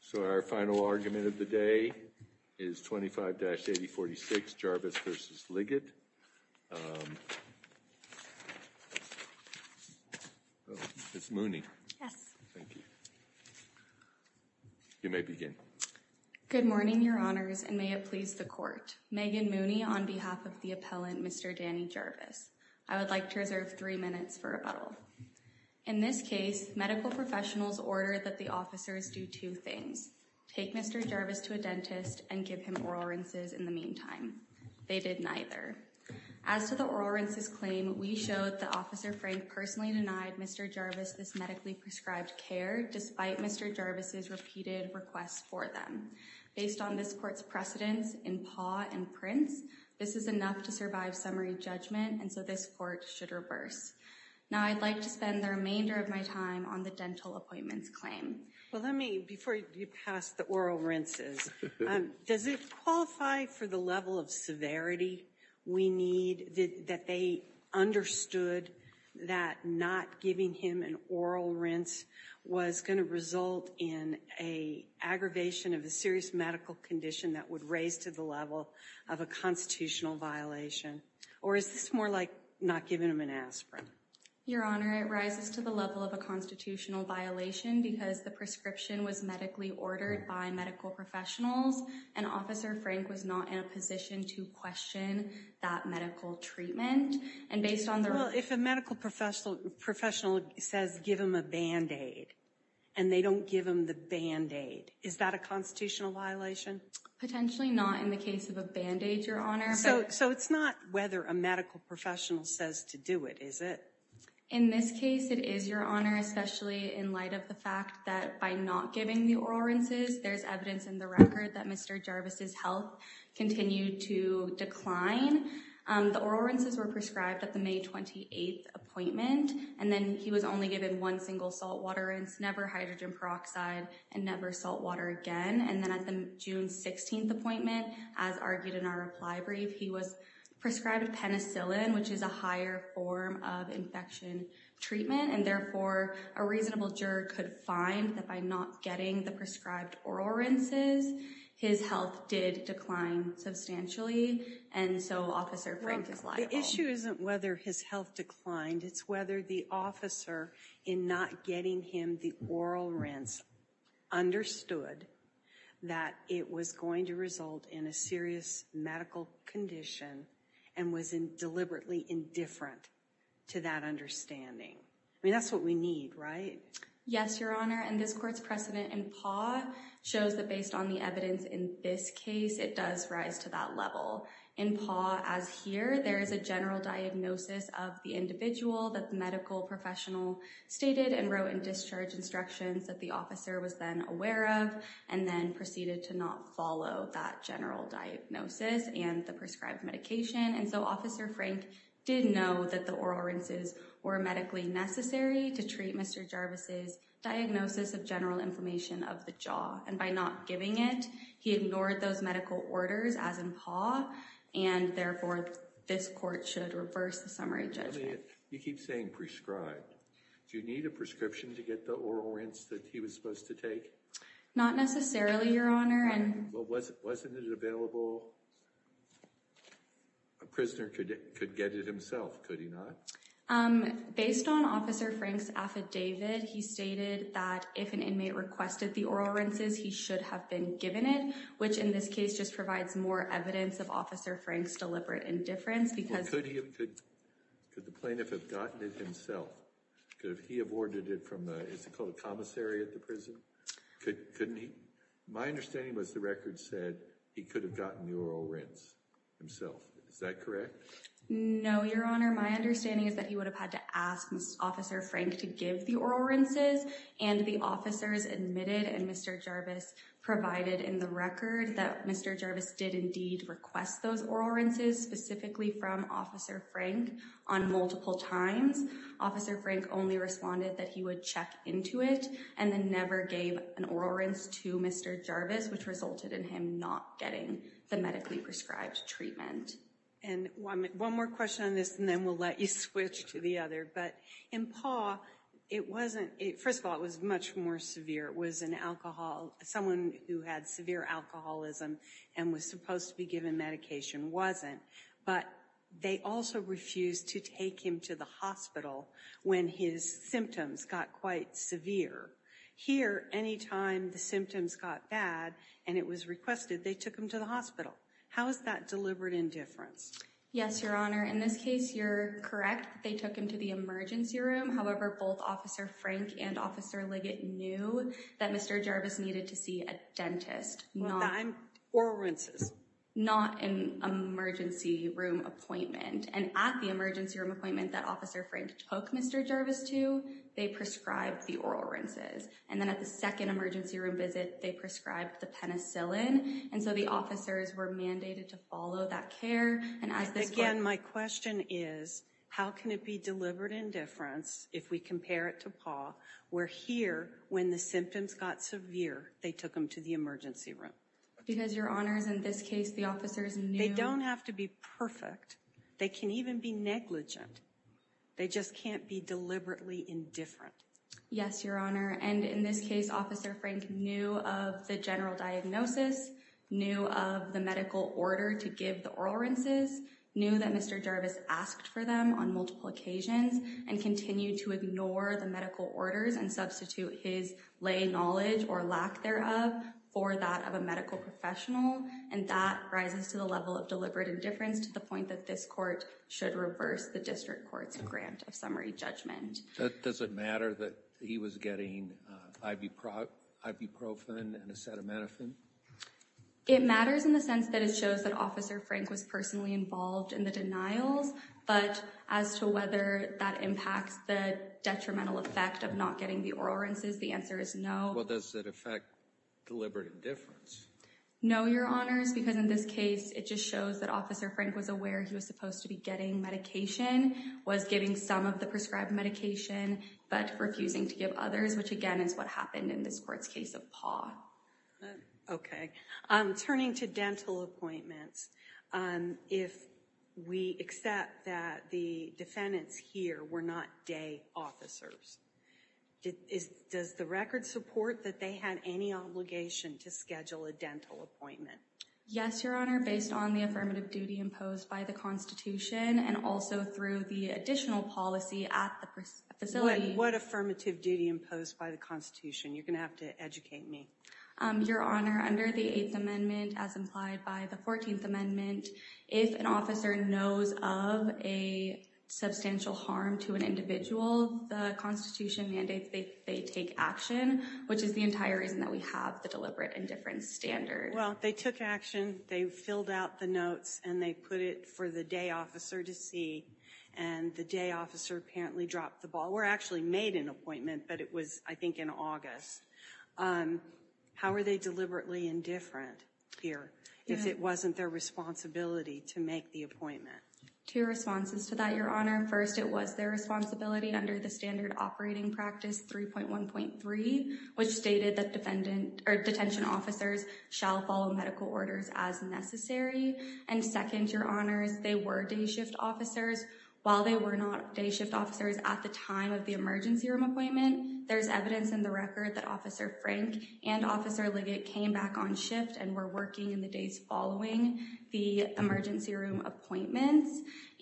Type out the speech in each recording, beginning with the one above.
So our final argument of the day is 25-8046 Jarvis v. Liggett. Ms. Mooney. Yes. Thank you. You may begin. Good morning, your honors, and may it please the court. Megan Mooney on behalf of the appellant, Mr. Danny Jarvis. I would like to reserve three minutes for rebuttal. In this case, medical professionals ordered that the officers do two things. Take Mr. Jarvis to a dentist and give him oral rinses in the meantime. They did neither. As to the oral rinses claim, we showed that Officer Frank personally denied Mr. Jarvis this medically prescribed care despite Mr. Jarvis' repeated requests for them. Based on this court's precedence in PAW and PRINCE, this is enough to survive summary judgment, and so this court should reverse. Now, I'd like to spend the remainder of my time on the dental appointments claim. Well, let me, before you pass the oral rinses, does it qualify for the level of severity we need that they understood that not giving him an oral rinse was going to result in an aggravation of a serious medical condition that would raise to the level of a constitutional violation? Or is this more like not giving him an aspirin? Your Honor, it rises to the level of a constitutional violation because the prescription was medically ordered by medical professionals, and Officer Frank was not in a position to question that medical treatment. And based on the... Well, if a medical professional says give him a Band-Aid, and they don't give him the Band-Aid, is that a constitutional violation? Potentially not in the case of a Band-Aid, Your Honor. So it's not whether a medical professional says to do it, is it? In this case, it is, Your Honor, especially in light of the fact that by not giving the oral rinses, there's evidence in the record that Mr. Jarvis' health continued to decline. The oral rinses were prescribed at the May 28th appointment, and then he was only given one single salt water rinse, never hydrogen peroxide, and never salt water again. And then at the June 16th appointment, as argued in our reply brief, he was prescribed penicillin, which is a higher form of infection treatment. And therefore, a reasonable juror could find that by not getting the prescribed oral rinses, his health did decline substantially, and so Officer Frank is liable. The issue isn't whether his health declined, it's whether the officer, in not getting him the oral rinse, understood that it was going to result in a serious medical condition, and was deliberately indifferent to that understanding. I mean, that's what we need, right? Yes, Your Honor, and this court's precedent in Paw shows that based on the evidence in this case, it does rise to that level. In Paw, as here, there is a general diagnosis of the individual that the medical professional stated and wrote in discharge instructions that the officer was then aware of, and then proceeded to not follow that general diagnosis and the prescribed medication. And so Officer Frank did know that the oral rinses were medically necessary to treat Mr. Jarvis' diagnosis of general inflammation of the jaw, and by not giving it, he ignored those medical orders as in Paw, and therefore, this court should reverse the summary judgment. You keep saying prescribed. Do you need a prescription to get the oral rinse that he was supposed to take? Not necessarily, Your Honor. Well, wasn't it available? A prisoner could get it himself, could he not? Based on Officer Frank's affidavit, he stated that if an inmate requested the oral rinses, he should have been given it, which in this case just provides more evidence of Officer Frank's deliberate indifference because... Well, could the plaintiff have gotten it himself? Could he have ordered it from, is it called a commissary at the prison? My understanding was the record said he could have gotten the oral rinse himself. Is that correct? No, Your Honor. My understanding is that he would have had to ask Officer Frank to give the oral rinses, and the officers admitted and Mr. Jarvis provided in the record that Mr. Jarvis did indeed request those oral rinses, specifically from Officer Frank on multiple times. Officer Frank only responded that he would check into it and then never gave an oral rinse to Mr. Jarvis, which resulted in him not getting the medically prescribed treatment. And one more question on this, and then we'll let you switch to the other. But in PAW, it wasn't... First of all, it was much more severe. It was an alcohol... Someone who had severe alcoholism and was supposed to be given medication wasn't, but they also refused to take him to the hospital when his symptoms got quite severe. Here, any time the symptoms got bad and it was requested, they took him to the hospital. How is that deliberate indifference? Yes, Your Honor. In this case, you're correct. They took him to the emergency room. However, both Officer Frank and Officer Liggett knew that Mr. Jarvis needed to see a dentist. Well, I'm... Oral rinses. Not an emergency room appointment. And at the emergency room appointment that Officer Frank took Mr. Jarvis to, they prescribed the oral rinses. And then at the second emergency room visit, they prescribed the penicillin. And so the officers were mandated to follow that care. Again, my question is, how can it be deliberate indifference if we compare it to PAW, where here, when the symptoms got severe, they took him to the emergency room? Because, Your Honors, in this case, the officers knew... They don't have to be perfect. They can even be negligent. They just can't be deliberately indifferent. Yes, Your Honor. And in this case, Officer Frank knew of the general diagnosis, knew of the medical order to give the oral rinses, knew that Mr. Jarvis asked for them on multiple occasions, and continued to ignore the medical orders and substitute his lay knowledge or lack thereof for that of a medical professional. And that rises to the level of deliberate indifference to the point that this court should reverse the district court's grant of summary judgment. Does it matter that he was getting ibuprofen and acetaminophen? It matters in the sense that it shows that Officer Frank was personally involved in the denials, but as to whether that impacts the detrimental effect of not getting the oral rinses, the answer is no. Well, does that affect deliberate indifference? No, Your Honors, because in this case, it just shows that Officer Frank was aware he was supposed to be getting medication, was giving some of the prescribed medication, but refusing to give others, which, again, is what happened in this court's case of Paul. OK. Turning to dental appointments, if we accept that the defendants here were not day officers, does the record support that they had any obligation to schedule a dental appointment? Yes, Your Honor, based on the affirmative duty imposed by the Constitution and also through the additional policy at the facility. What affirmative duty imposed by the Constitution? You're going to have to educate me. Your Honor, under the Eighth Amendment, as implied by the Fourteenth Amendment, if an officer knows of a substantial harm to an individual, the Constitution mandates they take action, which is the entire reason that we have the deliberate indifference standard. Well, they took action. They filled out the notes, and they put it for the day officer to see, and the day officer apparently dropped the ball. We're actually made an appointment, but it was, I think, in August. How are they deliberately indifferent here if it wasn't their responsibility to make the appointment? Two responses to that, Your Honor. First, it was their responsibility under the standard operating practice 3.1.3, which stated that detention officers shall follow medical orders as necessary. And second, Your Honors, they were day shift officers. While they were not day shift officers at the time of the emergency room appointment, there's evidence in the record that Officer Frank and Officer Liggett came back on shift and were working in the days following the emergency room appointments.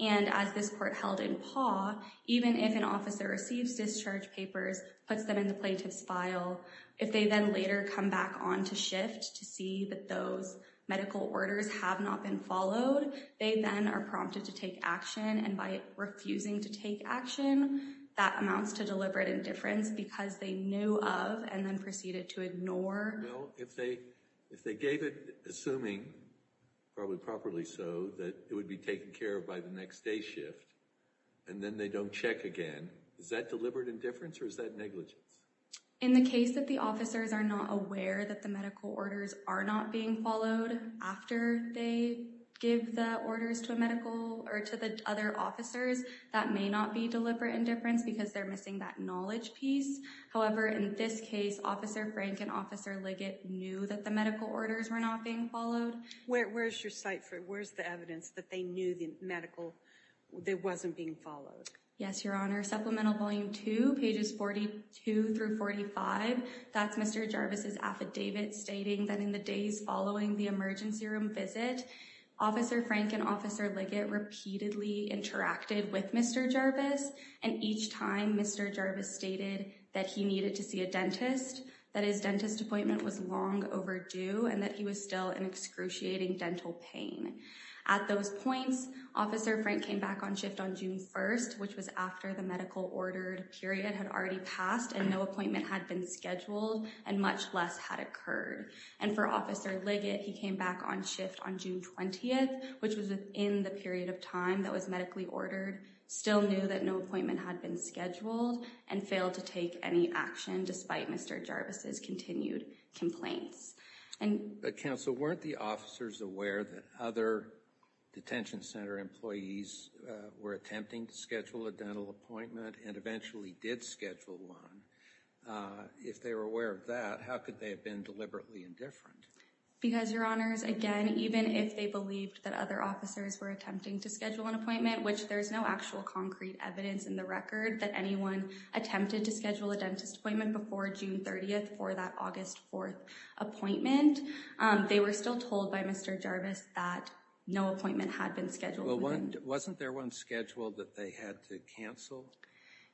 And as this court held in PAW, even if an officer receives discharge papers, puts them in the plaintiff's file, if they then later come back on to shift to see that those medical orders have not been followed, they then are prompted to take action. And by refusing to take action, that amounts to deliberate indifference because they knew of and then proceeded to ignore. Well, if they gave it, assuming probably properly so, that it would be taken care of by the next day shift, and then they don't check again, is that deliberate indifference or is that negligence? In the case that the officers are not aware that the medical orders are not being followed after they give the orders to a medical or to the other officers, that may not be deliberate indifference because they're missing that knowledge piece. However, in this case, Officer Frank and Officer Liggett knew that the medical orders were not being followed. Where's your cite for it? Where's the evidence that they knew the medical that wasn't being followed? Yes, Your Honor. Supplemental Volume 2, pages 42 through 45. That's Mr. Jarvis' affidavit stating that in the days following the emergency room visit, Officer Frank and Officer Liggett repeatedly interacted with Mr. Jarvis. And each time Mr. Jarvis stated that he needed to see a dentist, that his dentist appointment was long overdue and that he was still in excruciating dental pain. At those points, Officer Frank came back on shift on June 1st, which was after the medical ordered period had already passed and no appointment had been scheduled and much less had occurred. And for Officer Liggett, he came back on shift on June 20th, which was within the period of time that was medically ordered, still knew that no appointment had been scheduled and failed to take any action despite Mr. Jarvis' continued complaints. Counsel, weren't the officers aware that other detention center employees were attempting to schedule a dental appointment and eventually did schedule one? If they were aware of that, how could they have been deliberately indifferent? Because, Your Honors, again, even if they believed that other officers were attempting to schedule an appointment, which there's no actual concrete evidence in the record that anyone attempted to schedule a dentist appointment before June 30th for that August 4th appointment, they were still told by Mr. Jarvis that no appointment had been scheduled. Well, wasn't there one scheduled that they had to cancel?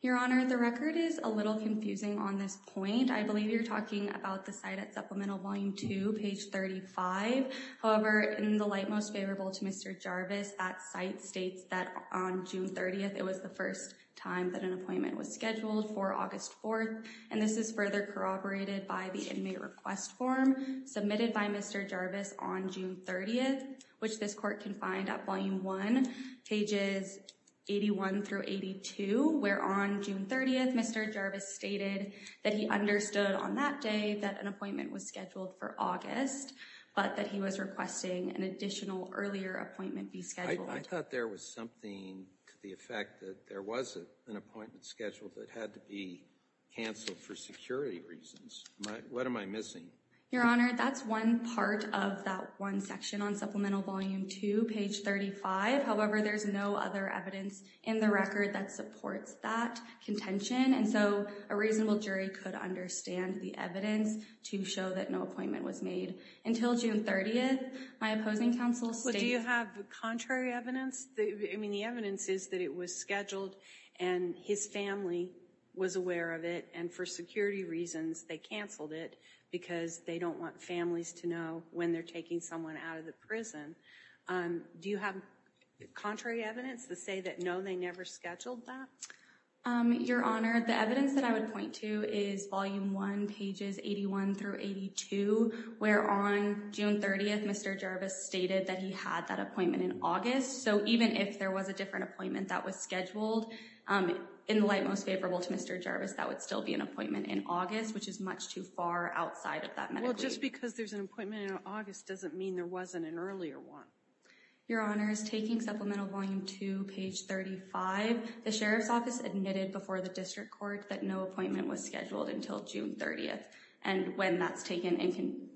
Your Honor, the record is a little confusing on this point. I believe you're talking about the site at Supplemental Volume 2, page 35. However, in the light most favorable to Mr. Jarvis, that site states that on June 30th, it was the first time that an appointment was scheduled for August 4th. And this is further corroborated by the inmate request form submitted by Mr. Jarvis on June 30th, which this court can find at Volume 1, pages 81 through 82, where on June 30th, Mr. Jarvis stated that he understood on that day that an appointment was scheduled for August, but that he was requesting an additional earlier appointment be scheduled. I thought there was something to the effect that there was an appointment scheduled that had to be canceled for security reasons. What am I missing? Your Honor, that's one part of that one section on Supplemental Volume 2, page 35. However, there's no other evidence in the record that supports that contention, and so a reasonable jury could understand the evidence to show that no appointment was made. Until June 30th, my opposing counsel stated- But do you have the contrary evidence? I mean, the evidence is that it was scheduled, and his family was aware of it, and for security reasons, they canceled it because they don't want families to know when they're taking someone out of the prison. Do you have contrary evidence to say that no, they never scheduled that? Your Honor, the evidence that I would point to is Volume 1, pages 81 through 82, where on June 30th, Mr. Jarvis stated that he had that appointment in August, so even if there was a different appointment that was scheduled, in the light most favorable to Mr. Jarvis, that would still be an appointment in August, which is much too far outside of that medically. Well, just because there's an appointment in August doesn't mean there wasn't an earlier one. Your Honor, taking Supplemental Volume 2, page 35, the Sheriff's Office admitted before the District Court that no appointment was scheduled until June 30th, and when that's taken in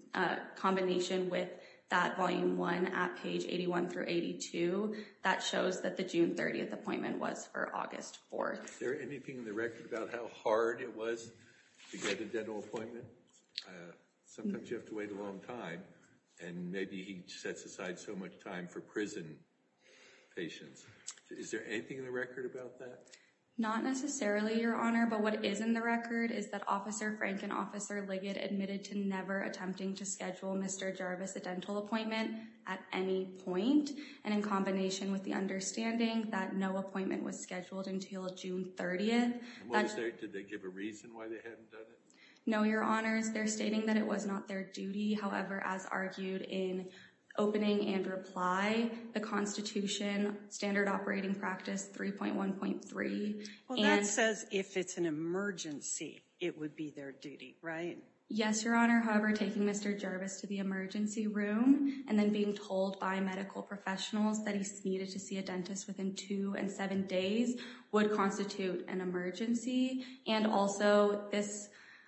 combination with that Volume 1 at page 81 through 82, that shows that the June 30th appointment was for August 4th. Is there anything in the record about how hard it was to get a dental appointment? Sometimes you have to wait a long time, and maybe he sets aside so much time for prison patients. Is there anything in the record about that? Not necessarily, Your Honor, but what is in the record is that Officer Frank and Officer Liggett admitted to never attempting to schedule Mr. Jarvis a dental appointment at any point, and in combination with the understanding that no appointment was scheduled until June 30th— Did they give a reason why they hadn't done it? No, Your Honors. They're stating that it was not their duty. However, as argued in opening and reply, the Constitution, Standard Operating Practice 3.1.3— Well, that says if it's an emergency, it would be their duty, right? Yes, Your Honor. However, taking Mr. Jarvis to the emergency room and then being told by medical professionals that he needed to see a dentist within two and seven days would constitute an emergency. And also,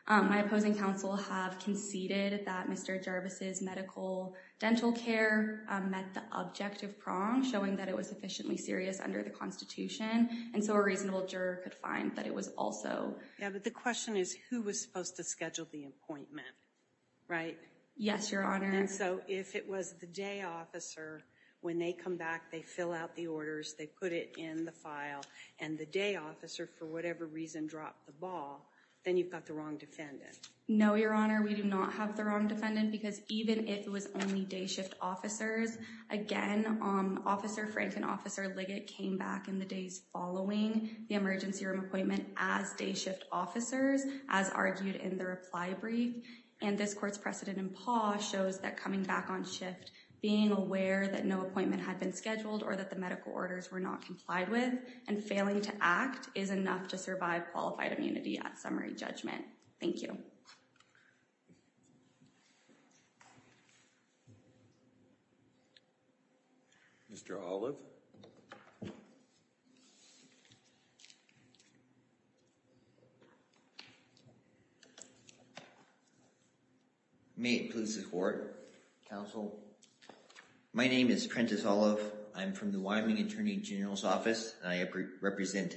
my opposing counsel have conceded that Mr. Jarvis' medical dental care met the objective prong, showing that it was sufficiently serious under the Constitution, and so a reasonable juror could find that it was also— Yeah, but the question is who was supposed to schedule the appointment, right? Yes, Your Honor. And so if it was the day officer, when they come back, they fill out the orders, they put it in the file, and the day officer, for whatever reason, dropped the ball, then you've got the wrong defendant. No, Your Honor. We do not have the wrong defendant because even if it was only day shift officers, again, Officer Frank and Officer Liggett came back in the days following the emergency room appointment as day shift officers, as argued in the reply brief. And this court's precedent in PAW shows that coming back on shift, being aware that no appointment had been scheduled or that the medical orders were not complied with and failing to act is enough to survive qualified immunity at summary judgment. Thank you. Mr. Olive? May it please the Court, Counsel. My name is Prentiss Olive. I'm from the Wyoming Attorney General's Office, and I represent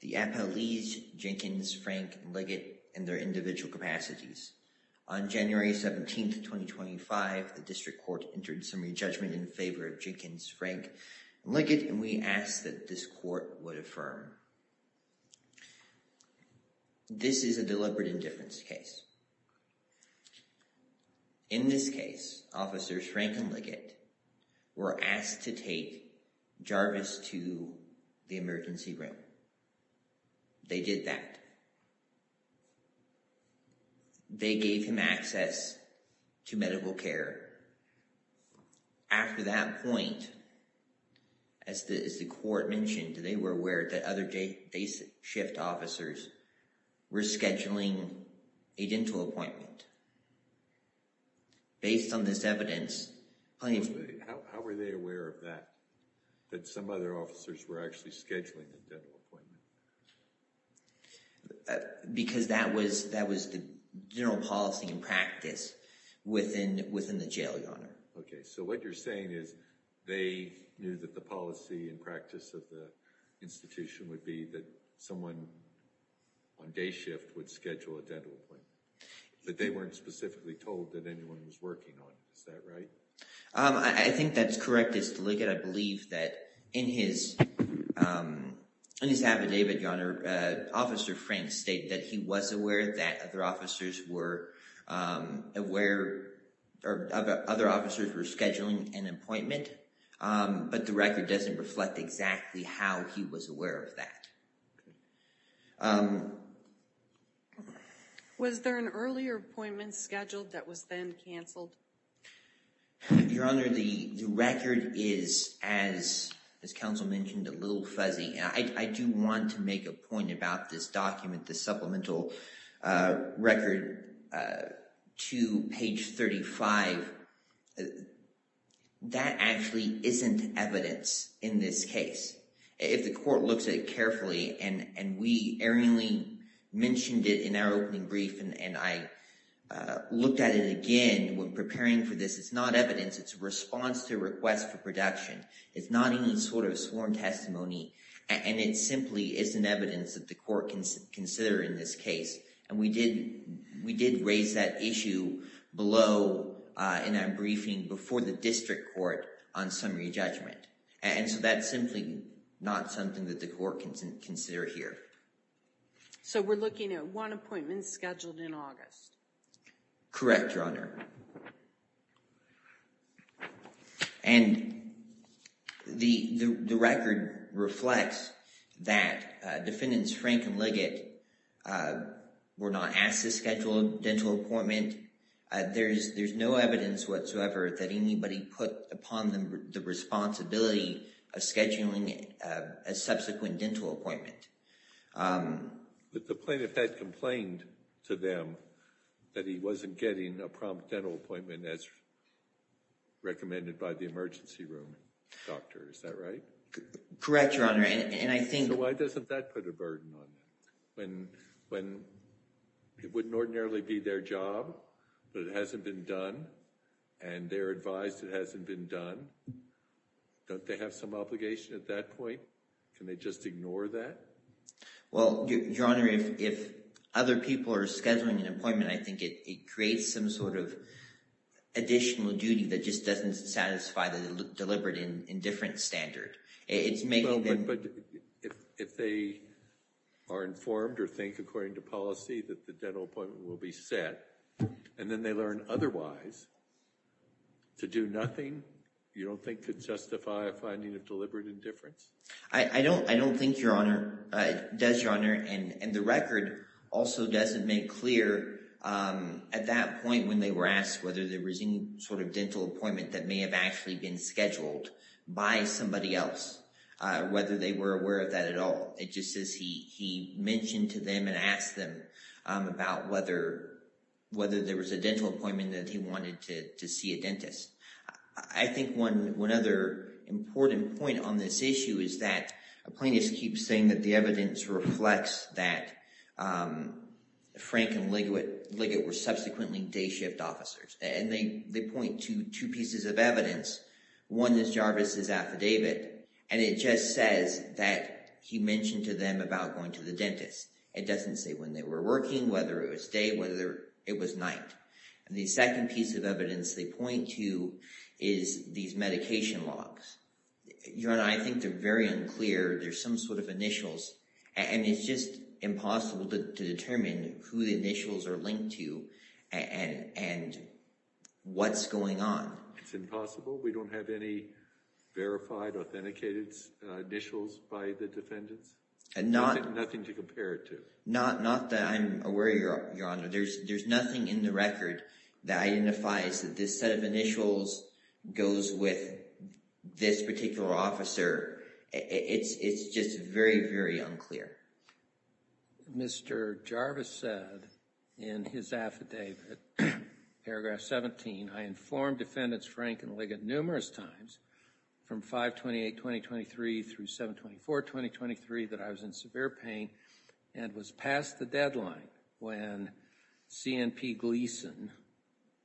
the Appellees Jenkins, Frank, and Liggett in their individual capacities. On January 17, 2025, the district court entered summary judgment in favor of Jenkins, Frank, and Liggett, and we asked that this court would affirm. This is a deliberate indifference case. In this case, Officers Frank and Liggett were asked to take Jarvis to the emergency room. They did that. They gave him access to medical care. After that point, as the court mentioned, they were aware that other day shift officers were scheduling a dental appointment. Based on this evidence… How were they aware of that, that some other officers were actually scheduling a dental appointment? Because that was the general policy and practice within the jail, Your Honor. Okay, so what you're saying is they knew that the policy and practice of the institution would be that someone on day shift would schedule a dental appointment, but they weren't specifically told that anyone was working on it. Is that right? I think that's correct. I believe that in his affidavit, Your Honor, Officer Frank stated that he was aware that other officers were scheduling an appointment, but the record doesn't reflect exactly how he was aware of that. Was there an earlier appointment scheduled that was then canceled? Your Honor, the record is, as counsel mentioned, a little fuzzy. I do want to make a point about this document, the supplemental record to page 35. That actually isn't evidence in this case. If the court looks at it carefully, and we erringly mentioned it in our opening brief, and I looked at it again when preparing for this, it's not evidence. It's a response to a request for production. It's not any sort of sworn testimony, and it simply isn't evidence that the court can consider in this case. And we did raise that issue below in our briefing before the district court on summary judgment. And so that's simply not something that the court can consider here. So we're looking at one appointment scheduled in August? Correct, Your Honor. And the record reflects that Defendants Frank and Liggett were not asked to schedule a dental appointment. There's no evidence whatsoever that anybody put upon them the responsibility of scheduling a subsequent dental appointment. But the plaintiff had complained to them that he wasn't getting a prompt dental appointment as recommended by the emergency room doctor. Is that right? Correct, Your Honor. So why doesn't that put a burden on them? When it wouldn't ordinarily be their job, but it hasn't been done, and they're advised it hasn't been done, don't they have some obligation at that point? Can they just ignore that? Well, Your Honor, if other people are scheduling an appointment, I think it creates some sort of additional duty that just doesn't satisfy the deliberate indifference standard. But if they are informed or think, according to policy, that the dental appointment will be set, and then they learn otherwise, to do nothing, you don't think could justify a finding of deliberate indifference? I don't think it does, Your Honor. And the record also doesn't make clear at that point when they were asked whether there was any sort of dental appointment that may have actually been scheduled by somebody else, whether they were aware of that at all. It just says he mentioned to them and asked them about whether there was a dental appointment that he wanted to see a dentist. I think one other important point on this issue is that a plaintiff keeps saying that the evidence reflects that Frank and Liggett were subsequently day shift officers. And they point to two pieces of evidence. One is Jarvis' affidavit, and it just says that he mentioned to them about going to the dentist. It doesn't say when they were working, whether it was day, whether it was night. And the second piece of evidence they point to is these medication logs. Your Honor, I think they're very unclear. There's some sort of initials, and it's just impossible to determine who the initials are linked to and what's going on. It's impossible? We don't have any verified, authenticated initials by the defendants? Nothing to compare it to? Not that I'm aware of, Your Honor. There's nothing in the record that identifies that this set of initials goes with this particular officer. It's just very, very unclear. Mr. Jarvis said in his affidavit, paragraph 17, I informed Defendants Frank and Liggett numerous times from 5-28-2023 through 7-24-2023 that I was in severe pain and was past the deadline when C.N.P. Gleason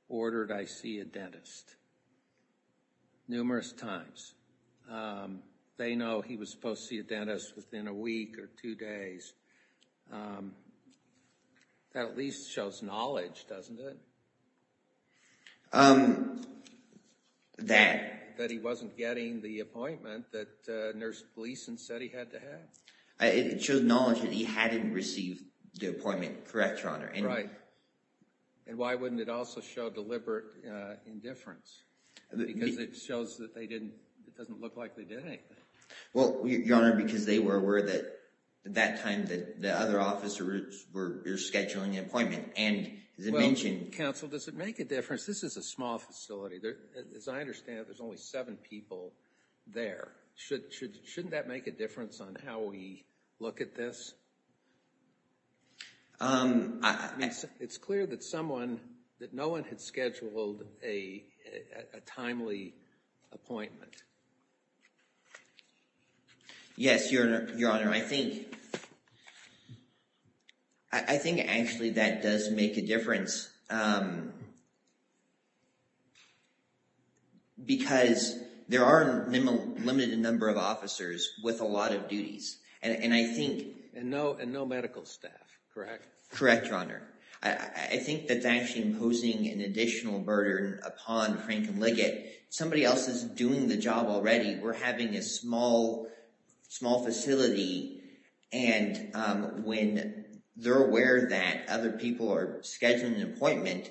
ordered I see a dentist. Numerous times. They know he was supposed to see a dentist within a week or two days. That at least shows knowledge, doesn't it? That? That he wasn't getting the appointment that Nurse Gleason said he had to have. It shows knowledge that he hadn't received the appointment, correct, Your Honor? Right. And why wouldn't it also show deliberate indifference? Because it shows that they didn't, it doesn't look like they did anything. Well, Your Honor, because they were aware that that time that the other officers were scheduling an appointment. And as I mentioned Well, counsel, does it make a difference? This is a small facility. As I understand it, there's only seven people there. Shouldn't that make a difference on how we look at this? It's clear that someone, that no one had scheduled a timely appointment. Yes, Your Honor. I think actually that does make a difference. Because there are a limited number of officers with a lot of duties. And no medical staff, correct? Correct, Your Honor. I think that's actually imposing an additional burden upon Frank and Liggett. Somebody else is doing the job already. We're having a small facility. And when they're aware that other people are scheduling an appointment,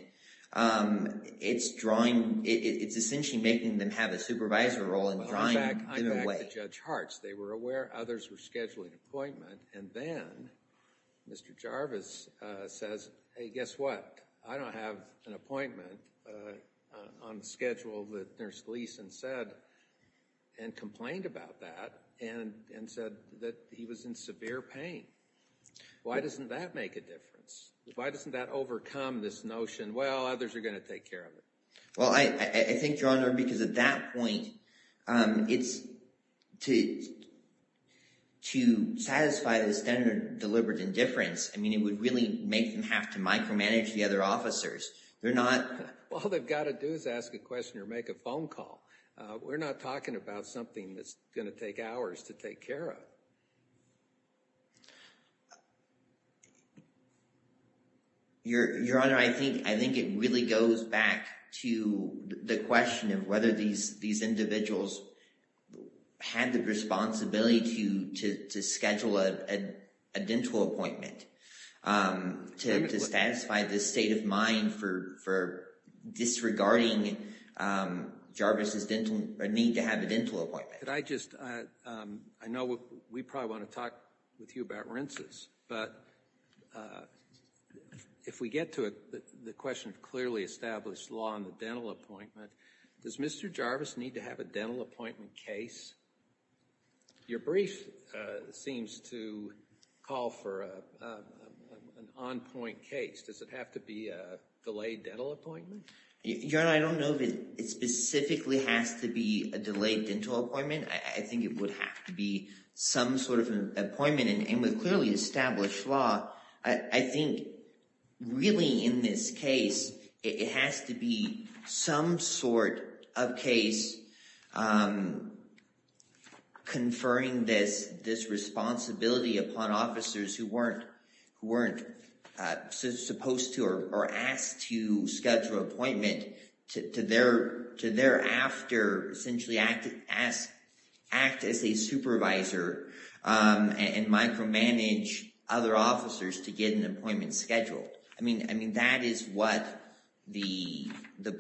it's drawing, it's essentially making them have a supervisor role. In fact, I talked to Judge Hartz. They were aware others were scheduling an appointment. And then Mr. Jarvis says, hey, guess what? I don't have an appointment on the schedule that Nurse Gleason said and complained about that and said that he was in severe pain. Why doesn't that make a difference? Why doesn't that overcome this notion, well, others are going to take care of it? Well, I think, Your Honor, because at that point, it's to satisfy the standard of deliberate indifference. I mean, it would really make them have to micromanage the other officers. They're not. All they've got to do is ask a question or make a phone call. We're not talking about something that's going to take hours to take care of. Your Honor, I think it really goes back to the question of whether these individuals had the responsibility to schedule a dental appointment to satisfy the state of mind for disregarding Jarvis' need to have a dental appointment. Could I just – I know we probably want to talk with you about rinses. But if we get to the question of clearly established law on the dental appointment, does Mr. Jarvis need to have a dental appointment case? Your brief seems to call for an on-point case. Does it have to be a delayed dental appointment? Your Honor, I don't know if it specifically has to be a delayed dental appointment. I think it would have to be some sort of an appointment. And with clearly established law, I think really in this case, it has to be some sort of case conferring this responsibility upon officers who weren't supposed to or asked to schedule an appointment to thereafter essentially act as a supervisor. And micromanage other officers to get an appointment scheduled. I mean that is what the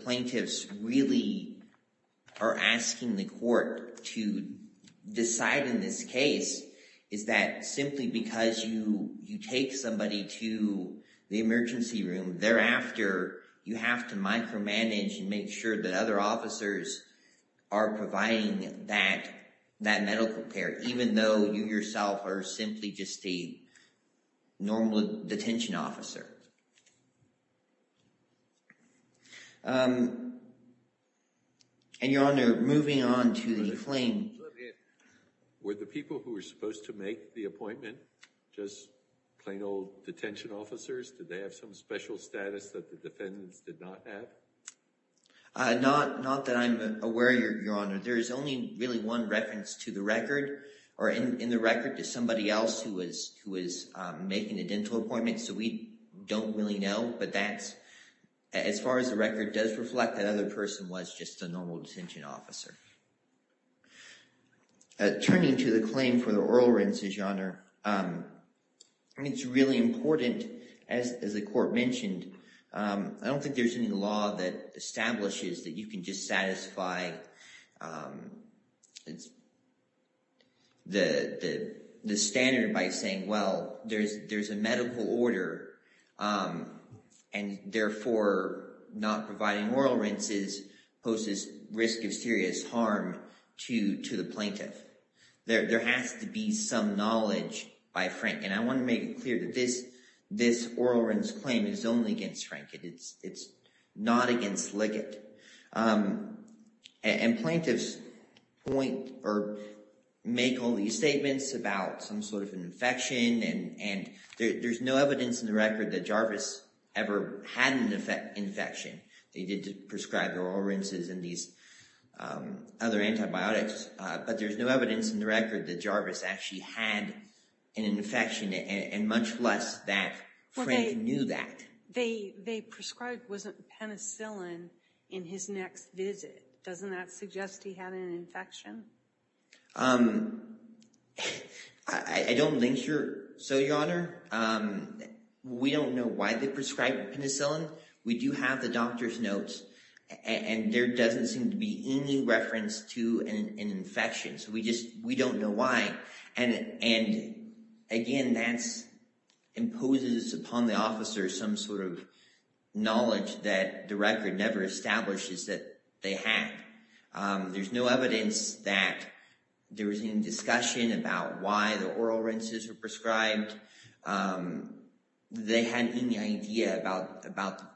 plaintiffs really are asking the court to decide in this case is that simply because you take somebody to the emergency room thereafter, you have to micromanage and make sure that other officers are providing that medical care even though you yourself are simply just a normal detention officer. And Your Honor, moving on to the claim. Were the people who were supposed to make the appointment just plain old detention officers? Did they have some special status that the defendants did not have? Not that I'm aware, Your Honor. There is only really one reference to the record or in the record to somebody else who is making a dental appointment. So we don't really know. But that's as far as the record does reflect that other person was just a normal detention officer. Turning to the claim for the oral rinses, Your Honor. I mean it's really important as the court mentioned. I don't think there's any law that establishes that you can just satisfy the standard by saying, well, there's a medical order and therefore not providing oral rinses poses risk of serious harm to the plaintiff. There has to be some knowledge by Frank. And I want to make it clear that this oral rinse claim is only against Frank. It's not against Liggett. And plaintiffs point or make all these statements about some sort of infection. And there's no evidence in the record that Jarvis ever had an infection. They did prescribe oral rinses and these other antibiotics. But there's no evidence in the record that Jarvis actually had an infection and much less that Frank knew that. They prescribed penicillin in his next visit. Doesn't that suggest he had an infection? I don't think so, Your Honor. We don't know why they prescribed penicillin. We do have the doctor's notes and there doesn't seem to be any reference to an infection. So we just we don't know why. And again, that imposes upon the officer some sort of knowledge that the record never establishes that they had. There's no evidence that there was any discussion about why the oral rinses were prescribed. They hadn't any idea about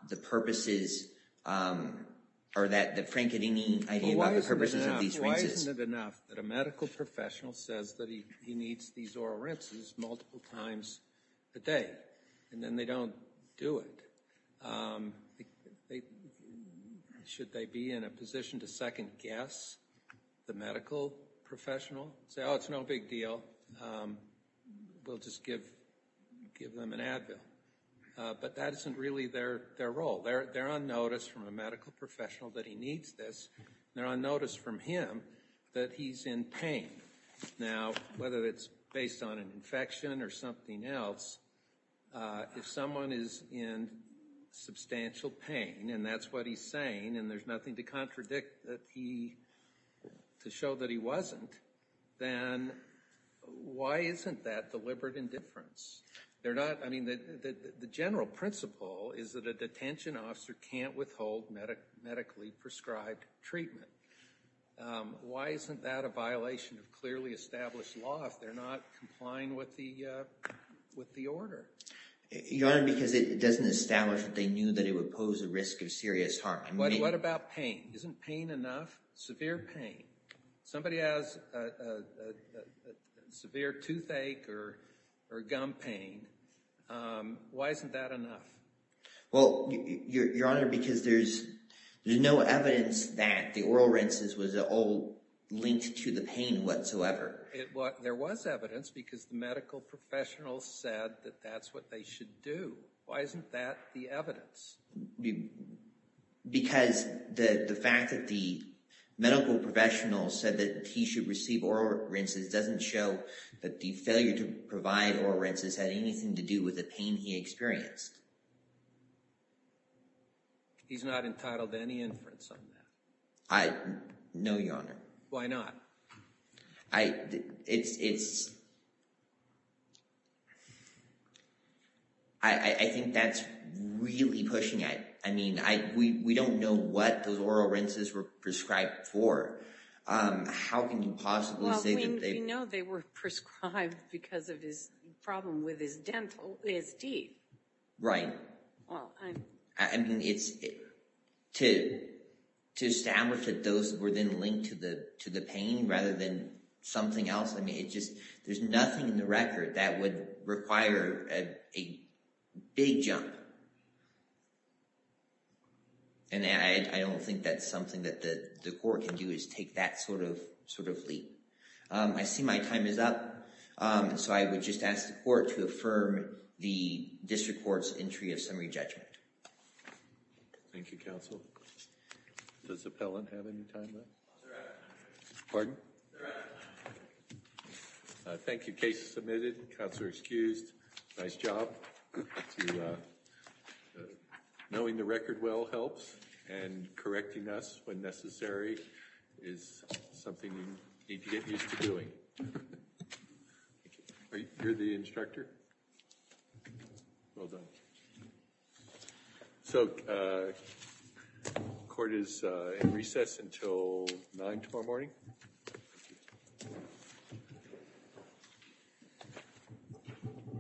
the purposes or that Frank had any idea about the purposes of these rinses. Why isn't it enough that a medical professional says that he needs these oral rinses multiple times a day and then they don't do it? Should they be in a position to second guess the medical professional? Say, oh, it's no big deal. We'll just give them an Advil. But that isn't really their role. They're on notice from a medical professional that he needs this. They're on notice from him that he's in pain. Now, whether it's based on an infection or something else, if someone is in substantial pain and that's what he's saying and there's nothing to contradict to show that he wasn't, then why isn't that deliberate indifference? I mean, the general principle is that a detention officer can't withhold medically prescribed treatment. Why isn't that a violation of clearly established law if they're not complying with the order? Your Honor, because it doesn't establish that they knew that it would pose a risk of serious harm. What about pain? Isn't pain enough? Severe pain. Somebody has severe toothache or gum pain. Why isn't that enough? Well, Your Honor, because there's no evidence that the oral rinses was at all linked to the pain whatsoever. There was evidence because the medical professional said that that's what they should do. Why isn't that the evidence? Because the fact that the medical professional said that he should receive oral rinses doesn't show that the failure to provide oral rinses had anything to do with the pain he experienced. He's not entitled to any inference on that. No, Your Honor. Why not? I think that's really pushing it. I mean, we don't know what those oral rinses were prescribed for. How can you possibly say that they… Well, we know they were prescribed because of his problem with his dental ISD. Right. I mean, to establish that those were then linked to the pain rather than something else, I mean, there's nothing in the record that would require a big jump. And I don't think that's something that the court can do is take that sort of leap. I see my time is up. So I would just ask the court to affirm the district court's entry of summary judgment. Thank you, counsel. Does the appellant have any time left? Pardon? Thank you. Case submitted. Counselor excused. Nice job. Knowing the record well helps and correcting us when necessary is something you need to get used to doing. Thank you. You're the instructor? Well done. So, court is in recess until 9 tomorrow morning.